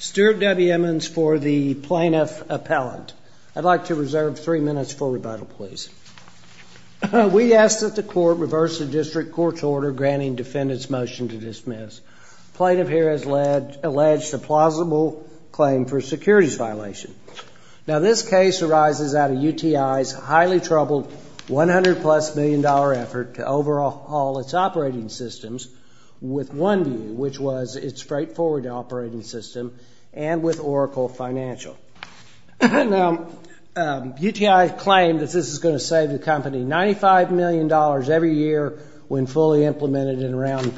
Stewart W. Emmons for the plaintiff appellant. I'd like to reserve three minutes for rebuttal, please. We ask that the court reverse the district court's order granting defendants motion to dismiss. Plaintiff here has alleged a plausible claim for securities violation. Now, this case arises out of UTI's highly troubled $100-plus million effort to overhaul its operating systems with OneView, which was its straightforward operating system, and with Oracle Financial. Now, UTI claimed that this is going to save the company $95 million every year when fully implemented in around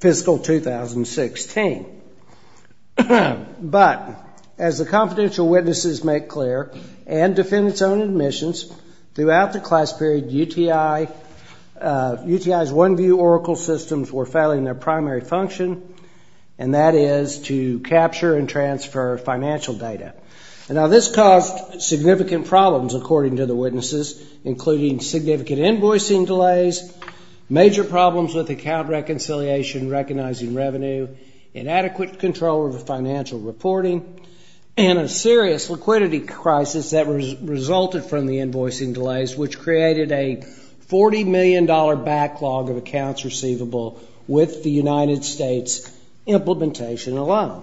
fiscal 2016. But, as the confidential witnesses make clear and defendant's own admissions, throughout the class period, UTI's OneView Oracle systems were failing their primary function, and that is to capture and transfer financial data. Now, this caused significant problems, according to the witnesses, including significant invoicing delays, major problems with account reconciliation, recognizing revenue, inadequate control of financial reporting, and a serious liquidity crisis that resulted from the invoicing delays, which created a $40 million backlog of accounts receivable with the United States implementation alone.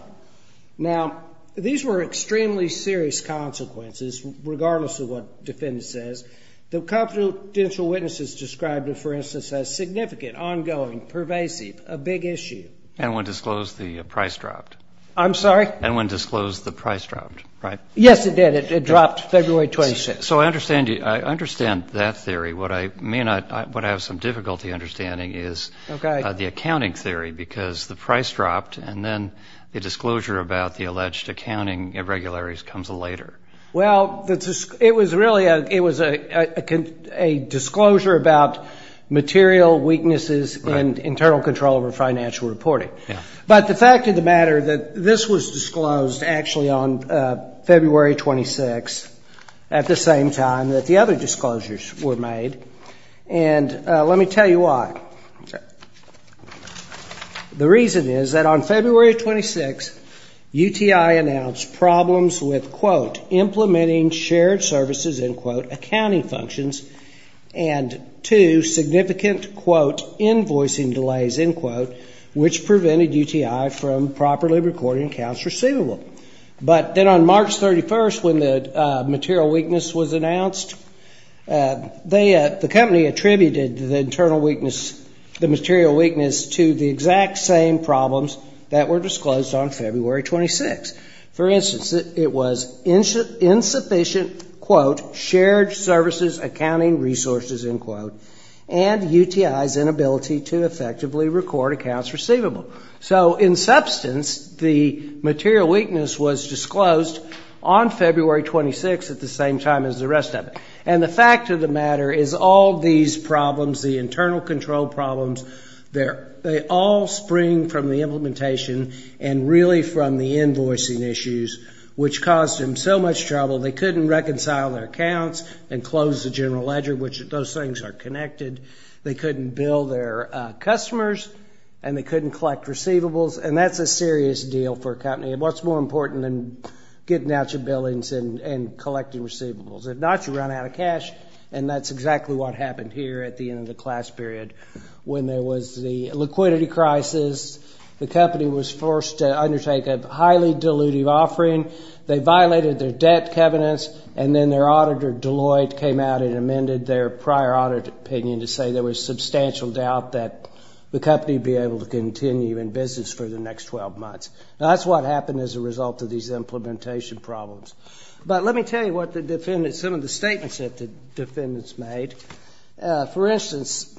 Now, these were extremely serious consequences, regardless of what defendants says. The confidential witnesses described it, for instance, as significant, ongoing, pervasive, a big issue. And when disclosed, the price dropped? I'm sorry? And when disclosed, the price dropped, right? Yes, it did. It dropped February 26th. So, I understand that theory. What I may not, what I have some difficulty understanding is the accounting theory, because the price dropped, and then the disclosure about the alleged accounting irregularities comes later. Well, it was really, it was a disclosure about material weaknesses and internal control over on February 26th, at the same time that the other disclosures were made. And let me tell you why. The reason is that on February 26th, UTI announced problems with, quote, implementing shared services, end quote, accounting functions, and two significant, quote, invoicing delays, end quote, which prevented UTI from properly recording accounts receivable. But then on March 31st, when the material weakness was announced, they, the company attributed the internal weakness, the material weakness to the exact same problems that were disclosed on February 26th. For instance, it was insufficient, quote, shared services, accounting resources, end quote, and UTI's inability to effectively record accounts receivable. So in substance, the material weakness was disclosed on February 26th at the same time as the rest of it. And the fact of the matter is all these problems, the internal control problems, they're, they all spring from the implementation and really from the invoicing issues, which caused them so much trouble. They couldn't reconcile their accounts and close the general ledger, which those things are connected. They couldn't bill their customers, and they couldn't collect receivables, and that's a serious deal for a company. What's more important than getting out your billings and collecting receivables? If not, you run out of cash, and that's exactly what happened here at the end of the class period when there was the liquidity crisis. The company was forced to undertake a highly dilutive offering. They violated their debt covenants, and then their auditor, Deloitte, came out and amended their prior audit opinion to say there was substantial doubt that the company would be able to continue in business for the next 12 months. Now, that's what happened as a result of these implementation problems. But let me tell you what the defendants, some of the statements that the defendants made. For instance,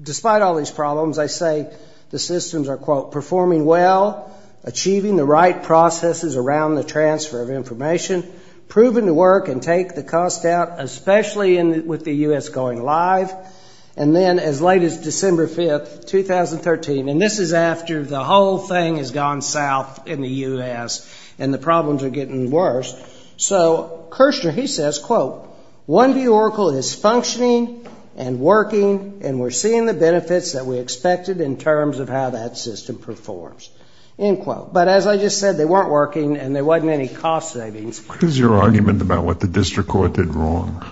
despite all these problems, I say the systems are, quote, performing well, achieving the right processes around the transfer of information, proven to work and take the cost out, especially with the U.S. going live. And then as late as December 5th, 2013, and this is after the whole thing has gone south in the U.S. and the problems are getting worse. So Kirshner, he says, quote, OneView Oracle is functioning and working, and we're seeing the benefits that we expected in terms of how that system performs, end quote. But as I just said, they weren't working, and there wasn't any cost savings. What is your argument about what the district court did wrong?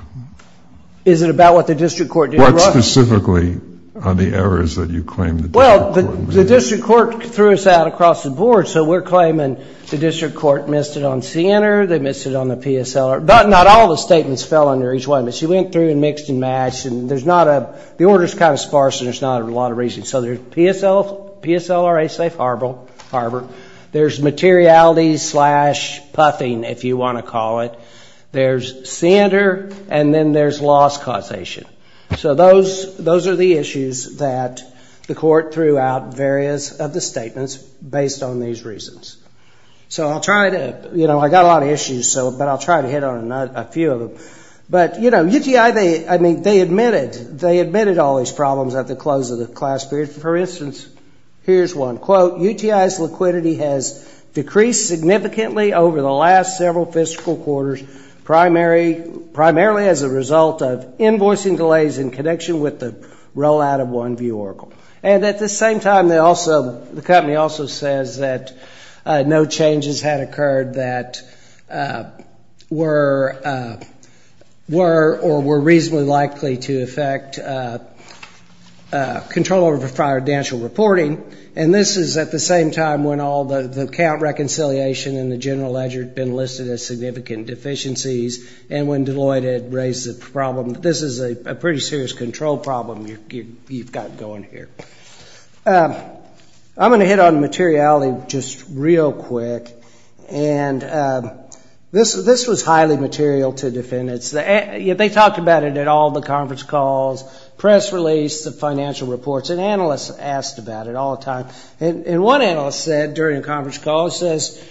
Is it about what the district court did wrong? What specifically are the errors that you claim the district court made? Well, the district court threw us out across the board, so we're claiming the district court missed it on CNR, they missed it on the PSLR, but not all the statements fell under each one, but she went through and mixed and matched, and there's not a, the order's kind of sparse, and there's not a lot of reason. So there's PSLRA safe harbor, there's materiality slash puffing, if you want to call it, there's CNR, and then there's loss causation. So those are the issues that the court threw out various of the statements based on these reasons. So I'll try to, you know, I got a lot of issues, so, but I'll try to hit on a few of them. But you know, UTI, they, I mean, they admitted, they admitted all these problems at the close of the class period. For instance, here's one, quote, UTI's liquidity has decreased significantly over the last several fiscal quarters, primarily as a result of invoicing delays in connection with the rollout of OneView Oracle. And at the same time, they also, the no changes had occurred that were, were, or were reasonably likely to affect control over confidential reporting. And this is at the same time when all the count reconciliation in the general ledger had been listed as significant deficiencies, and when Deloitte had raised the problem. This is a pretty serious control problem you've got going here. I'm going to hit on materiality just real quick. And this was highly material to defendants. They talked about it at all the conference calls, press release, the financial reports, and analysts asked about it all the time. And one analyst said during a conference call, says,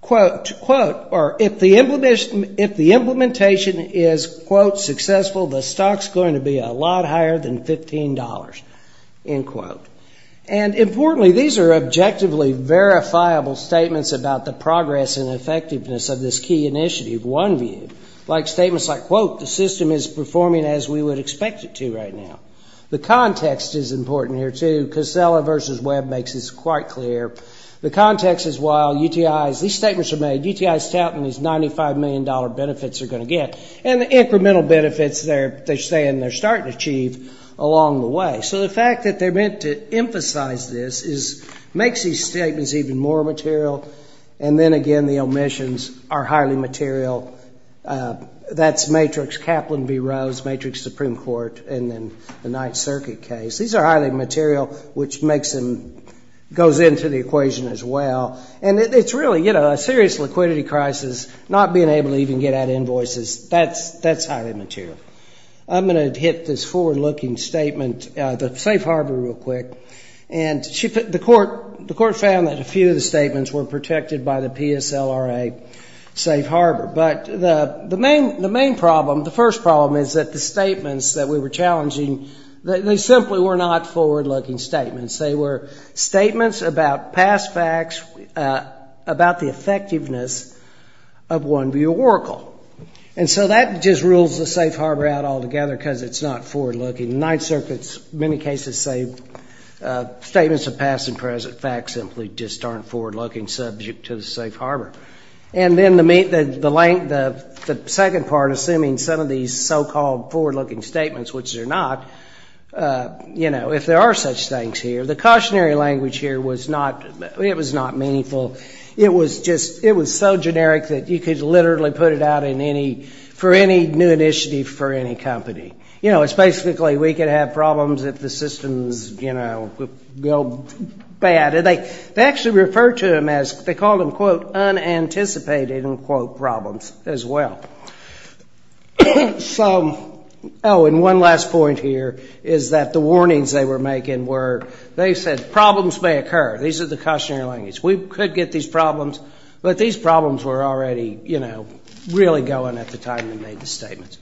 quote, quote, or if the implementation is, quote, successful, the stock's going to be a lot higher than $15, end quote. And importantly, these are objectively verifiable statements about the progress and effectiveness of this key initiative, OneView. Like statements like, quote, the system is performing as we would expect it to right now. The context is important here too. Casella versus Webb makes this quite clear. The context is while UTI's, these statements are made, UTI's touting these $95 million benefits they're going to get, and the incremental benefits they're saying they're starting to achieve along the way. So the fact that they're meant to emphasize this makes these statements even more material. And then again, the omissions are highly material. That's matrix Kaplan v. Rose, matrix Supreme Court, and then the Ninth Circuit case. These are highly material, which makes them, goes into the equation as well. And it's really, you know, a serious liquidity crisis, not being able to even get invoices. That's highly material. I'm going to hit this forward-looking statement, the safe harbor real quick. And the court found that a few of the statements were protected by the PSLRA safe harbor. But the main problem, the first problem is that the statements that we were challenging, they simply were not forward-looking statements. They were statements about past facts, about the effectiveness of one view oracle. And so that just rules the safe harbor out altogether because it's not forward-looking. Ninth Circuit's many cases say statements of past and present facts simply just aren't forward-looking subject to the safe harbor. And then the second part, assuming some of these so-called forward-looking statements, which they're not, you know, if there are such things here, the cautionary language here was not, it was not meaningful. It was just, it was so generic that you could literally put it out in any, for any new initiative for any company. You know, it's basically we could have problems if the systems, you know, go bad. And they actually referred to them as, they called them, quote, unanticipated, unquote, problems as well. So, oh, and one last point here is that the warnings they were making were, they said problems may occur. These are the cautionary language. We could get these problems, but these problems were already, you know, really going at the time they made the statements.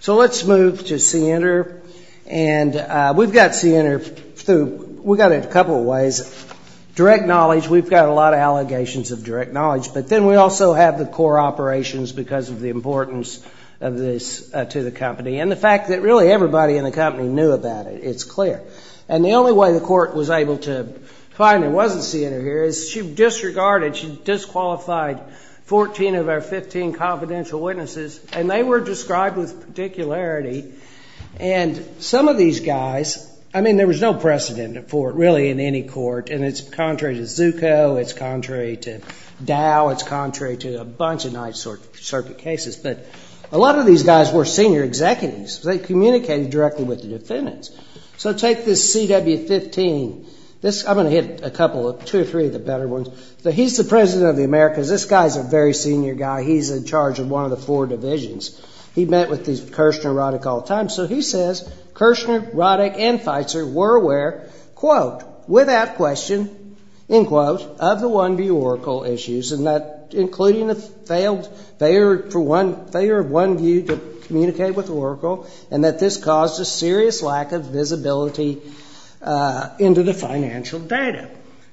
So let's move to CNR. And we've got CNR through, we've got it a couple of ways. Direct knowledge, we've got a lot of allegations of direct knowledge. But then we also have the core operations because of the importance of this to the company. And the fact that really everybody in the company knew about it, it's clear. And the only way the court was able to find there wasn't CNR here is she disregarded, she disqualified 14 of our 15 confidential witnesses, and they were described with particularity. And some of these guys, I mean, there was no precedent for it really in any court. And it's contrary to Zucco, it's contrary to Dow, it's contrary to a bunch of nice circuit cases. But a lot of these guys were senior executives. They communicated directly with the defendants. So take this CW15. I'm going to hit a couple of, two or three of the better ones. So he's the President of the Americas. This guy's a very senior guy. He's in charge of one of the four divisions. He met with Kirshner, Roddick all the time. So he says, Kirshner, Roddick, and Feitzer were aware, quote, without question, end quote, of the OneView Oracle issues, and that including the failure of OneView to communicate with Oracle, and that this caused a serious lack of visibility into the financial data.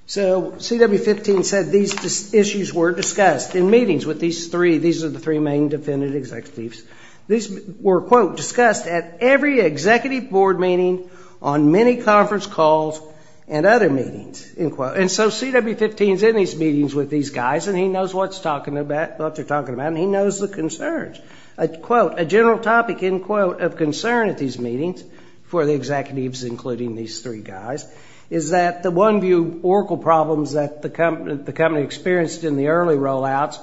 So CW15 said these issues were discussed in meetings with these three. These are the three main defendant executives. These were, quote, discussed at every executive board meeting, on many conference calls, and other meetings, end quote. And so CW15's in these meetings with these guys, and he knows what they're talking about, and he knows the concerns. Quote, a general topic, end quote, of concern at these meetings for the executives including these three guys is that the OneView Oracle problems that the company experienced in the early rollouts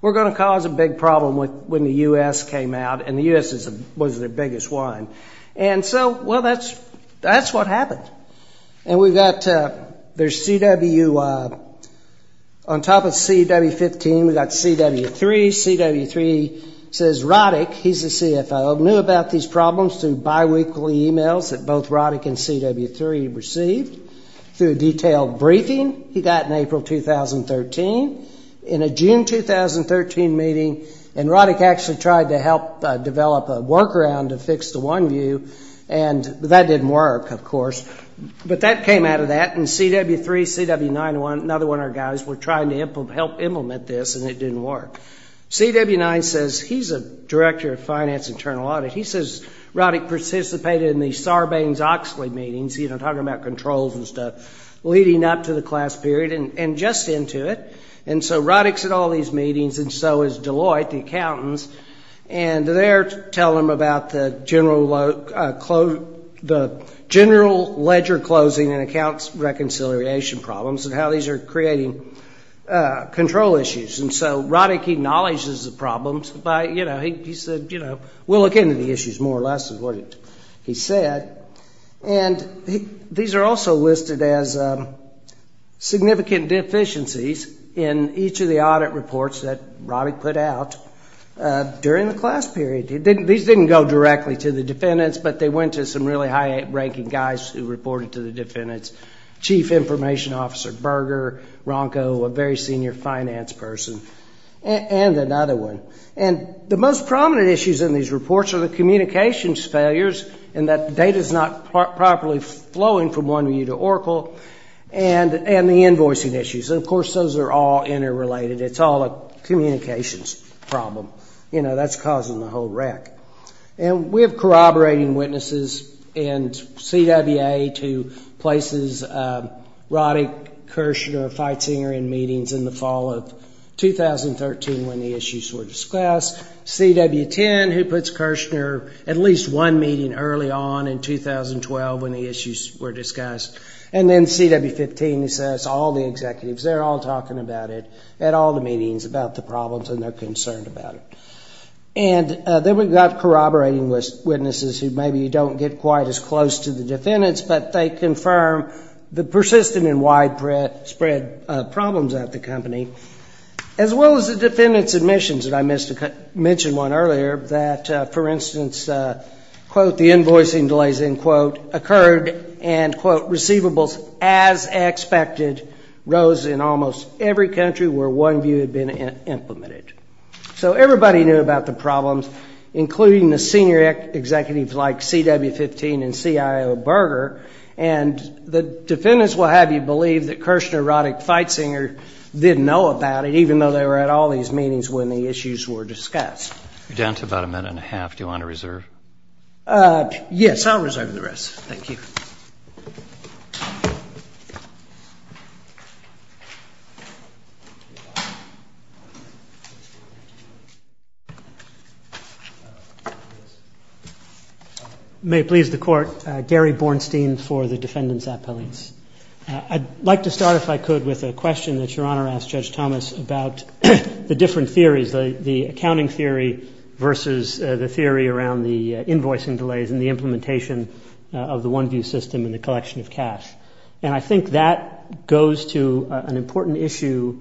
were going to cause a big problem when the U.S. came out, and the U.S. was their biggest one. And so, well, that's what happened. And we've got their CW, on top of CW15, we've got CW3. CW3 says Roddick, he's the CFO, knew about these problems through biweekly emails that both Roddick and CW3 received through a detailed briefing he got in April 2013 in a June 2013 meeting, and Roddick actually tried to help develop a workaround to fix the OneView, and that didn't work, of course. But that came out of that, and CW3, CW9, another one of our guys, were trying to help implement this, and it didn't work. CW9 says, he's a director of finance internal audit, he says Roddick participated in the Sarbanes-Oxley meetings, you know, talking about controls and stuff, leading up to the class period, and just into it. And so Roddick's at all there to tell him about the general ledger closing and accounts reconciliation problems and how these are creating control issues. And so Roddick acknowledges the problems by, you know, he said, you know, we'll look into the issues, more or less, is what he said. And these are also listed as significant deficiencies in each of the audit reports that Roddick put out during the class period. These didn't go directly to the defendants, but they went to some really high-ranking guys who reported to the defendants. Chief Information Officer Berger, Ronco, a very senior finance person, and another one. And the most prominent issues in these reports are the communications failures, in that data's not properly flowing from OneView to Oracle, and the invoicing issues. And of course, those are all interrelated. It's all a communications problem. You know, that's causing the whole wreck. And we have corroborating witnesses in CWA to places Roddick, Kirshner, Feitzinger in meetings in the fall of 2013 when the issues were discussed. CW10, who puts Kirshner at least one meeting early on in 2012 when the issues were discussed. And then CW15, who says all the executives, they're all talking about it at all the meetings about the problems, and they're concerned about it. And then we've got corroborating witnesses who maybe don't get quite as close to the defendants, but they confirm the persistent and widespread problems at the company, as well as the defendants' admissions. And I mentioned one earlier that, for instance, quote, the invoicing delays, end quote, occurred, and quote, receivables, as expected, rose in almost every country where OneView had been implemented. So everybody knew about the problems, including the senior executives like CW15 and CIO Berger. And the defendants will have you believe that Kirshner, Roddick, Feitzinger didn't know about it, even though they were at all these meetings when the issues were discussed. You're down to about a minute and a half. Do you want to reserve? Yes, I'll reserve the rest. Thank you. May it please the Court, Gary Bornstein for the defendants' appellates. I'd like to start, if I could, with a question that Your Honor asked Judge Thomas about the different theories, the accounting theory versus the theory around the invoicing delays and the implementation of the OneView system and the collection of cash. And I think that goes to an important issue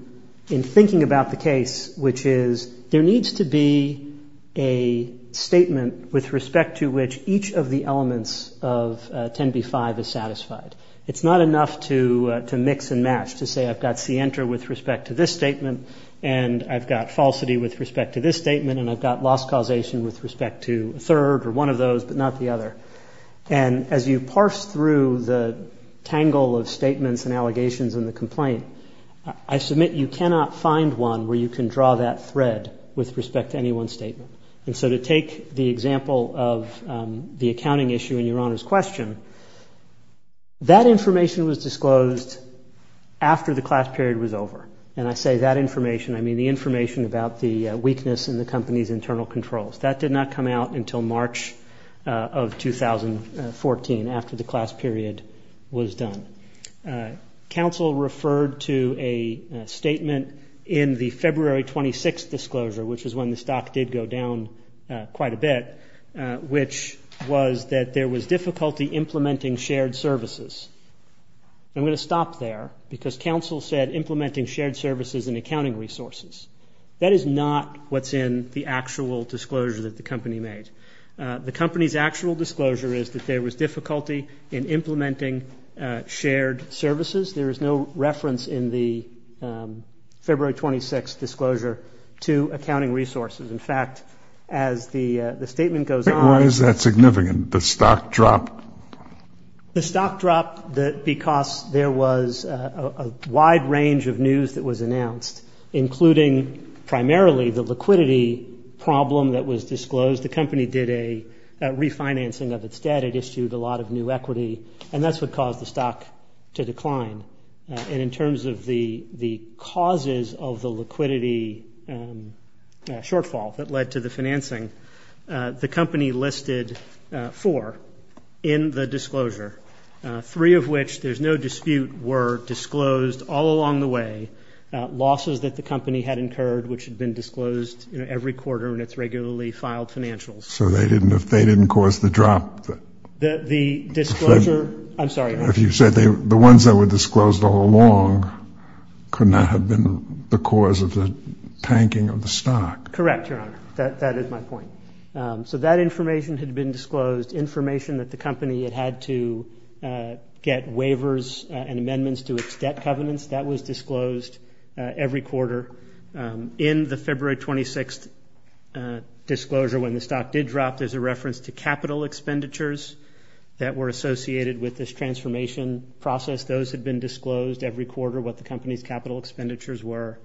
in thinking about the case, which is there needs to be a statement with respect to which each of the elements of 10b-5 is satisfied. It's not enough to mix and match, to say I've got C-enter with respect to this statement, and I've got falsity with respect to this statement, and I've got loss causation with respect to a third or one of those but not the other. And as you parse through the tangle of statements and allegations in the complaint, I submit you cannot find one where you can draw that thread with respect to any one statement. And so to take the example of the accounting issue in Your Honor's question, that information was disclosed after the class period was over. And I say that information, I mean the information about the weakness in the company's internal controls. That did not come out until March of 2014, after the class period was done. Counsel referred to a statement in the February 26th disclosure, which is when the stock did go down quite a bit, which was that there was difficulty implementing shared services. I'm going to stop there, because counsel said implementing shared services and accounting resources. That is not what's in the actual disclosure that the company made. The company's actual disclosure is that there was difficulty in implementing shared services. There is no reference in the February 26th disclosure to accounting resources. In fact, as the company the statement goes on. Why is that significant? The stock dropped? The stock dropped because there was a wide range of news that was announced, including primarily the liquidity problem that was disclosed. The company did a refinancing of its debt. It issued a lot of new equity. And that's what caused the stock to decline. And in terms of the causes of the liquidity shortfall that led to the financing, the company listed four in the disclosure, three of which there's no dispute were disclosed all along the way. Losses that the company had incurred, which had been disclosed every quarter in its regularly filed financials. So they didn't cause the drop? The disclosure, I'm sorry. If you said the ones that were disclosed all along could not have been the cause of the tanking of the stock. Correct, Your Honor. That is my point. So that information had been disclosed, information that the company had had to get waivers and amendments to its debt covenants, that was disclosed every quarter. In the February 26th disclosure, when the stock did drop, there's a reference to capital expenditures that were associated with this transformation process. Those had been disclosed every quarter, what the company's capital expenditures were.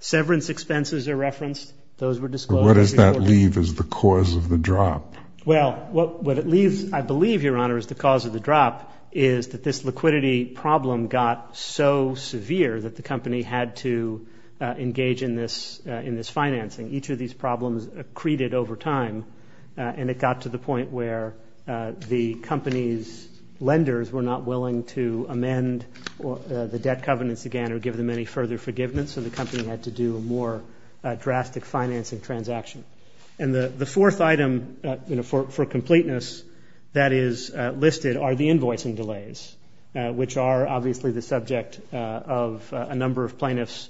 Severance expenses are referenced. Those were disclosed every quarter. What does that leave as the cause of the drop? Well, what it leaves, I believe, Your Honor, as the cause of the drop is that this liquidity problem got so severe that the company had to engage in this financing. Each of these problems accreted over time, and it got to the point where the company's lenders were not willing to amend the debt covenants again or give them any further forgiveness, so the company had to do a more drastic financing transaction. And the fourth item for completeness that is listed are the invoicing delays, which are obviously the subject of a number of plaintiffs'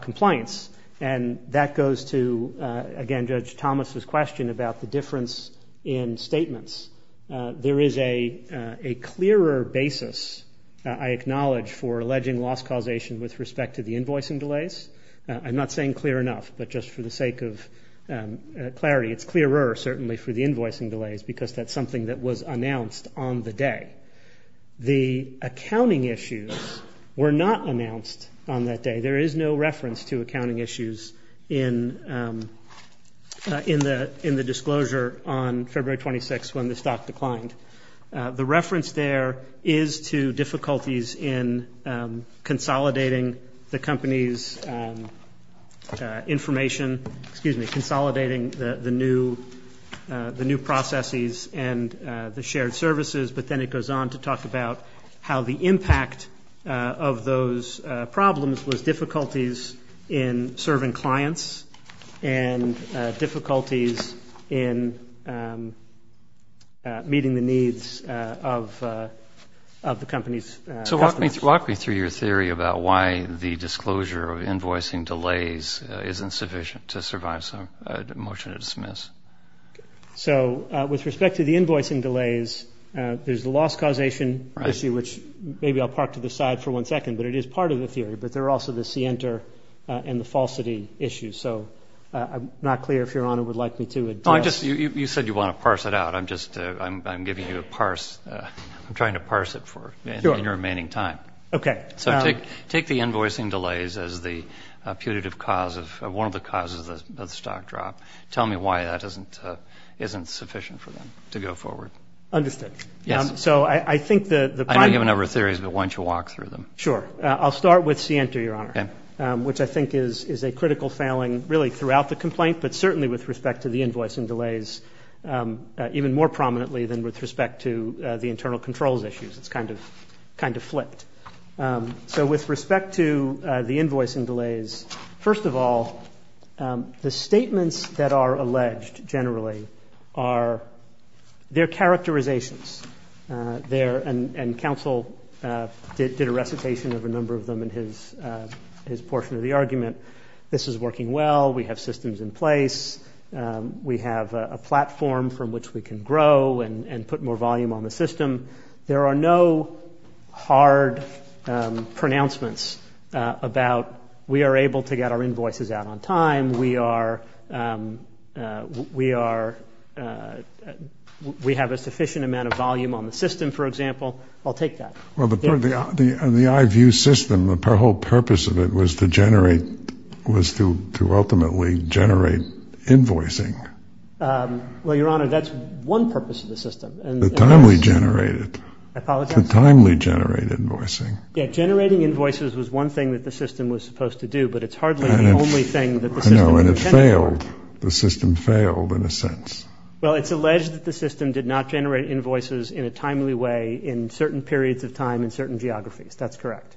compliance. And that goes to, again, Judge Thomas' question about the difference in statements. There is a clearer basis, I acknowledge, for alleging loss causation with respect to the invoicing delays. I'm not saying clear enough, but just for the sake of clarity, it's clearer, certainly, for the invoicing delays because that's something that was announced on the day. The accounting issues were not announced on that day. There is no reference to accounting issues in the disclosure on February 26th when the stock declined. The reference there is to difficulties in consolidating the company's information, consolidating the new processes and the shared services, but then it goes on to talk about how the impact of those problems was difficulties in serving clients and difficulties in meeting the needs of the company's customers. So walk me through your theory about why the disclosure of invoicing delays isn't sufficient to survive a motion to dismiss. So with respect to the invoicing delays, there's the loss causation issue, which maybe I'll park to the side for one second, but it is part of the theory, but there are also the scienter and the falsity issues. So I'm not clear if Your Honor would like me to address No, I just, you said you want to parse it out. I'm just, I'm giving you a parse. I'm trying to parse it for your remaining time. Okay. So take the invoicing delays as the putative cause of one of the causes of the stock drop. Tell me why that isn't sufficient for them to go forward. Understood. So I think the I know you have a number of theories, but why don't you walk through them? Sure. I'll start with scienter, Your Honor, which I think is a critical failing really throughout the complaint, but certainly with respect to the invoicing delays, even more prominently than with respect to the internal controls issues. It's kind of flipped. So with respect to the invoicing delays, first of all, the statements that are alleged generally are their characterizations. And counsel did a recitation of a number of them in his portion of the argument. This is working well. We have systems in place. We have a platform from which we can grow and put more volume on the system. There are no hard pronouncements about we are able to get our invoices out on time. We are, we are, we have a sufficient amount of volume on the system, for example. I'll take that. Well, the, the, the, the IVU system, the whole purpose of it was to generate, was to, to ultimately generate invoicing. Well, Your Honor, that's one purpose of the system. The timely generated. I apologize. The timely generated invoicing. Yeah, generating invoices was one thing that the system was supposed to do, but it's hardly the only thing that the system intended. I know, and it failed. The system failed in a sense. Well, it's alleged that the system did not generate invoices in a timely way in certain periods of time in certain geographies. That's correct.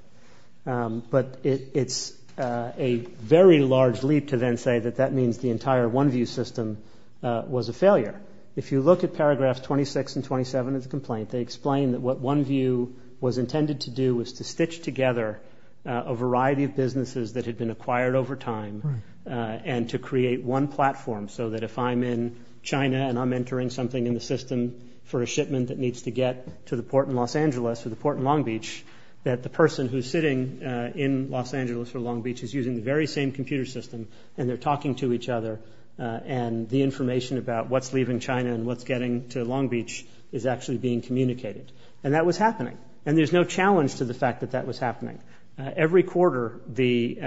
But it, it's a very large leap to then say that that means the entire OneView system was a failure. If you look at paragraphs 26 and 27 of the complaint, they explain that what OneView was intended to do was to stitch together a variety of businesses that had been acquired over time and to create one platform so that if I'm in China and I'm entering something in the system for a shipment that needs to get to the port in Los Angeles or the port in Long Beach, that the person who's sitting in Los Angeles or Long Beach is using the very same computer system and they're talking to each other and the information about what's leaving China and what's getting to Long Beach is actually being communicated. And that was happening. And there's no challenge to the fact that that was happening. Every quarter the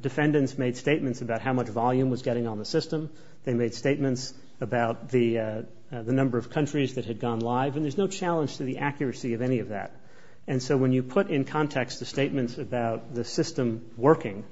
defendants made statements about how much volume was getting on the system. They made statements about the number of countries that had gone live. And there's no challenge to the accuracy of any of that. And so when you put in context the statements about the system working,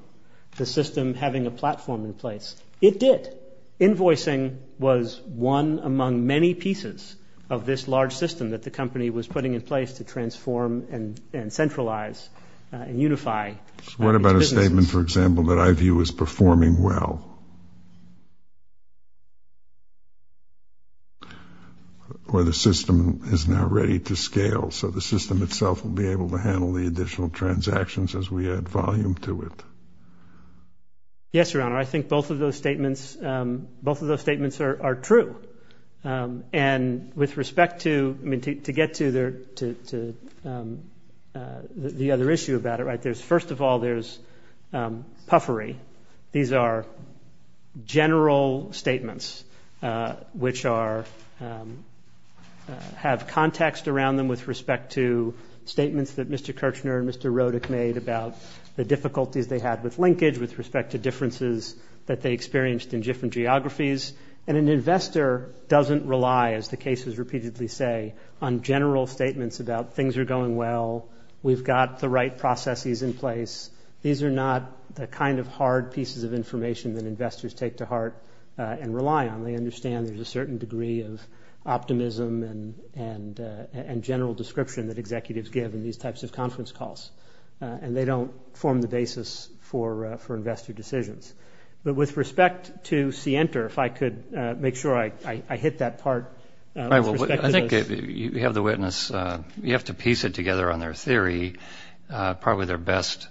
the system having a platform in place, it did. Invoicing was one among many pieces of this large system that the company was putting in place to transform and centralize and unify its businesses. What about a statement, for example, that I view as performing well? Or the system is now ready to scale so the system itself will be able to handle the additional transactions as we add volume to it? Yes, Your Honor. I think both of those statements are true. And with respect to, I mean, to get to the other issue about it, right, there's, first of all, there's puffery. These are general statements which have context around them with respect to statements that Mr. Kirchner and Mr. Rodek made about the difficulties they had with linkage, with respect to differences that they experienced in different geographies. And an investor doesn't rely, as the cases repeatedly say, on general statements about things are going well, we've got the right processes in place. These are not the kind of hard pieces of information that investors take to heart and rely on. They understand there's a certain degree of optimism and general description that executives give in these types of conference calls. And they don't form the basis for investor decisions. But with respect to Center, if I could make sure I hit that part. I think you have the witness. You have to piece it together on their theory. Probably their best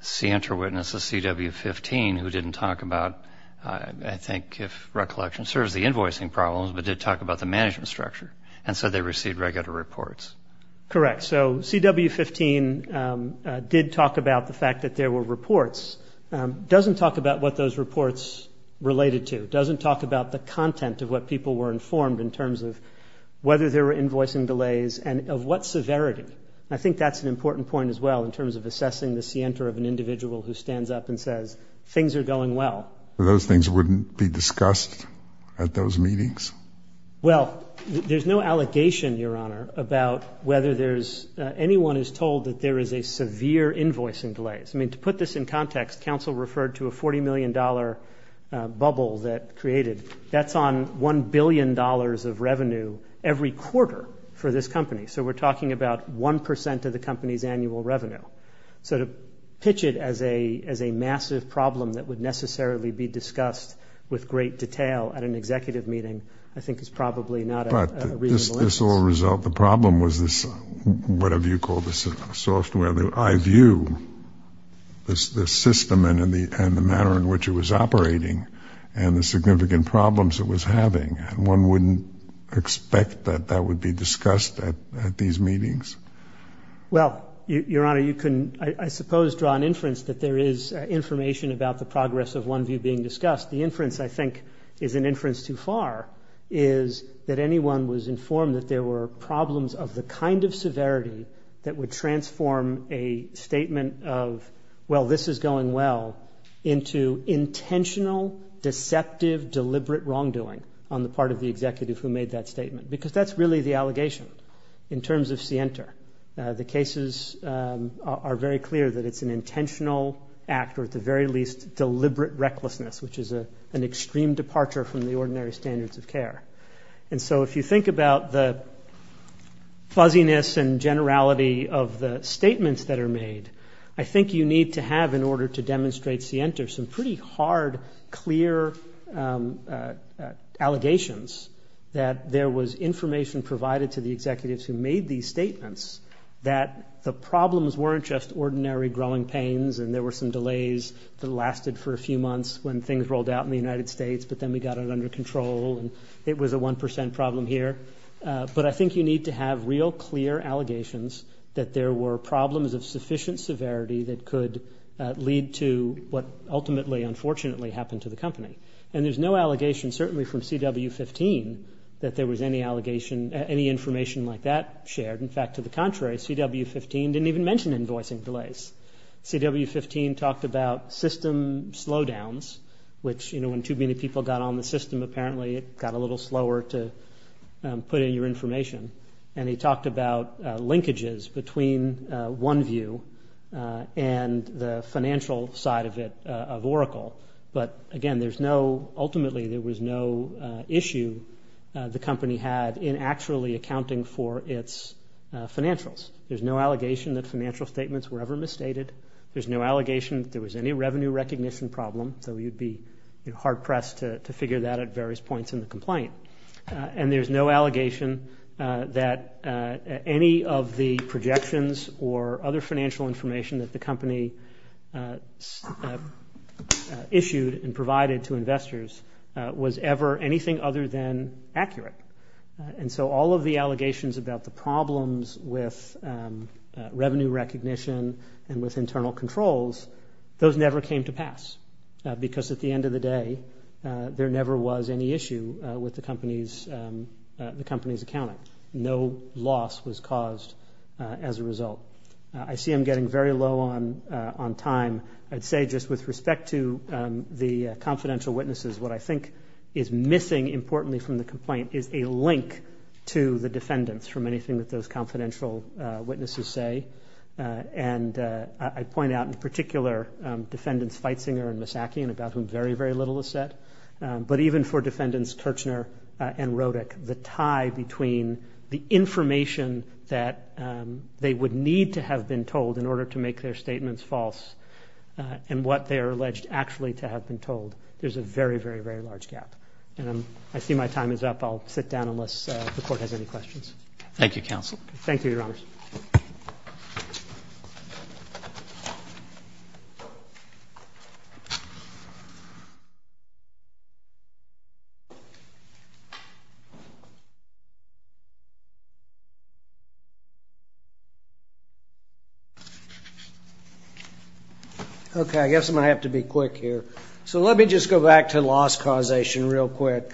Center witness is CW15, who didn't talk about, I think, if recollection serves, the invoicing problems, but did talk about the management structure and said they received regular reports. Correct. So CW15 did talk about the fact that there were reports, doesn't talk about what those reports related to, doesn't talk about the content of what people were informed in terms of whether there were invoicing delays and of what severity. I think that's an important point as well in terms of assessing the Center of an individual who stands up and says things are going well. Those things wouldn't be discussed at those meetings? Well, there's no allegation, Your Honor, about whether there's anyone who's told that there is a severe invoicing delay. I mean, to put this in context, counsel referred to a $40 million bubble that created. That's on $1 billion of revenue every quarter for this company. So we're talking about 1% of the company's annual revenue. So to pitch it as a massive problem that would necessarily be discussed with great detail at an executive meeting, I think, is probably not a reasonable instance. But this will result, the problem was this, what have you called this, software, the iView, the system and the manner in which it was operating and the significant problems it was having. One wouldn't expect that that would be discussed at these meetings. Well, Your Honor, you can, I suppose, draw an inference that there is information about the progress of 1View being discussed. The inference, I think, is an inference too far, is that anyone was informed that there were problems of the kind of severity that would transform a statement of, well, this is going well, into intentional, deceptive, deliberate wrongdoing on the part of the executive who made that statement. Because that's really the allegation in terms of Sienter. The cases are very clear that it's an intentional act or at the very least deliberate recklessness, which is an extreme departure from the ordinary standards of care. And so if you think about the fuzziness and generality of the statements that are made, I think you need to have, in order to demonstrate Sienter, some pretty hard, clear allegations that there was information provided to the executives who made these statements that the problems weren't just ordinary growing pains and there were some delays that lasted for a few months when things rolled out in the United States, but then we got it under control and it was a 1% problem here. But I think you need to have real, clear allegations that there were problems of sufficient severity that could lead to what ultimately, unfortunately, happened to the company. And there's no allegation, certainly from CW15, that there was any information like that shared. In fact, to the contrary, CW15 didn't even mention invoicing delays. CW15 talked about system slowdowns, which when too many people got on the system, apparently it got a little slower to put in your information. And he talked about linkages between OneView and the financial side of it, of Oracle. But, again, there's no... Ultimately, there was no issue the company had in actually accounting for its financials. There's no allegation that financial statements were ever misstated. There's no allegation that there was any revenue recognition problem, though you'd be hard-pressed to figure that at various points in the complaint. And there's no allegation that any of the projections or other financial information that the company issued and provided to investors was ever anything other than accurate. And so all of the allegations about the problems with revenue recognition and with internal controls, those never came to pass, because at the end of the day, there never was any issue with the company's accounting. No loss was caused as a result. I see I'm getting very low on time. I'd say just with respect to the confidential witnesses, what I think is missing, importantly, from the complaint, is a link to the defendants from anything that those confidential witnesses say. And I'd point out, in particular, defendants Feitzinger and Misaki, about whom very, very little is said, but even for defendants Kirchner and Rodick, the tie between the information that they would need to have been told in order to make their statements false and what they are alleged actually to have been told. There's a very, very, very large gap. And I see my time is up. I'll sit down unless the Court has any questions. Thank you, counsel. Thank you, Your Honor. Okay, I guess I'm going to have to be quick here. So let me just go back to loss causation real quick.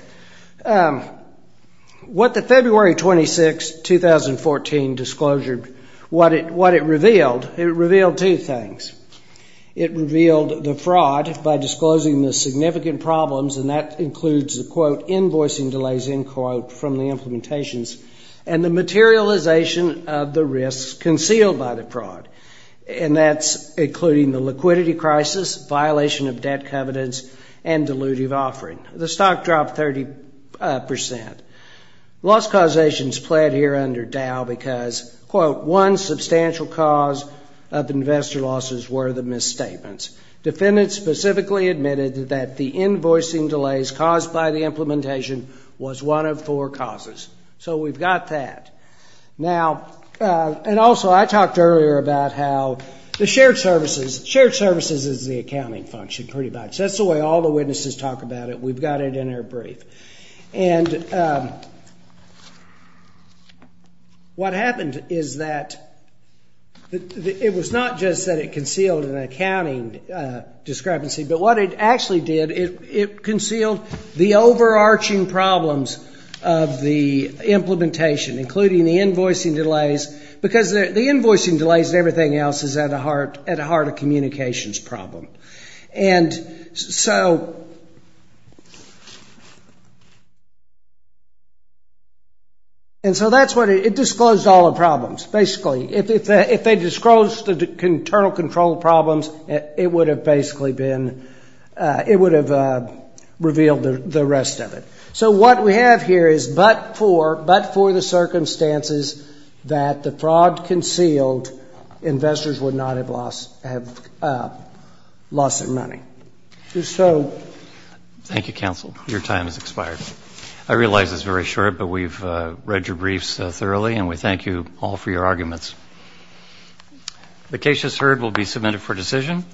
What the February 26, 2014 disclosure... what it revealed, it revealed two things. It revealed the fraud by disclosing the significant problems, and that includes the, quote, invoicing delays, end quote, from the implementations, and the materialization of the risks concealed by the fraud. And that's including the liquidity crisis, violation of debt covenants, and dilutive offering. The stock dropped 30%. Loss causation is played here under Dow because, quote, one substantial cause of investor losses were the misstatements. Defendants specifically admitted that the invoicing delays caused by the implementation was one of four causes. So we've got that. Now, and also, I talked earlier about how the shared services... Shared services is the accounting function, pretty much. That's the way all the witnesses talk about it. We've got it in our brief. And... what happened is that... it was not just that it concealed an accounting discrepancy, but what it actually did, it concealed the overarching problems of the implementation, including the invoicing delays, because the invoicing delays and everything else is at the heart of communications problem. And so... And so that's what... It disclosed all the problems, basically. If they disclosed the internal control problems, it would have basically been... it would have revealed the rest of it. So what we have here is, but for the circumstances that the fraud concealed, investors would not have lost their money. If so... Thank you, counsel. Your time has expired. I realize it's very short, but we've read your briefs thoroughly, and we thank you all for your arguments. The case just heard will be submitted for decision.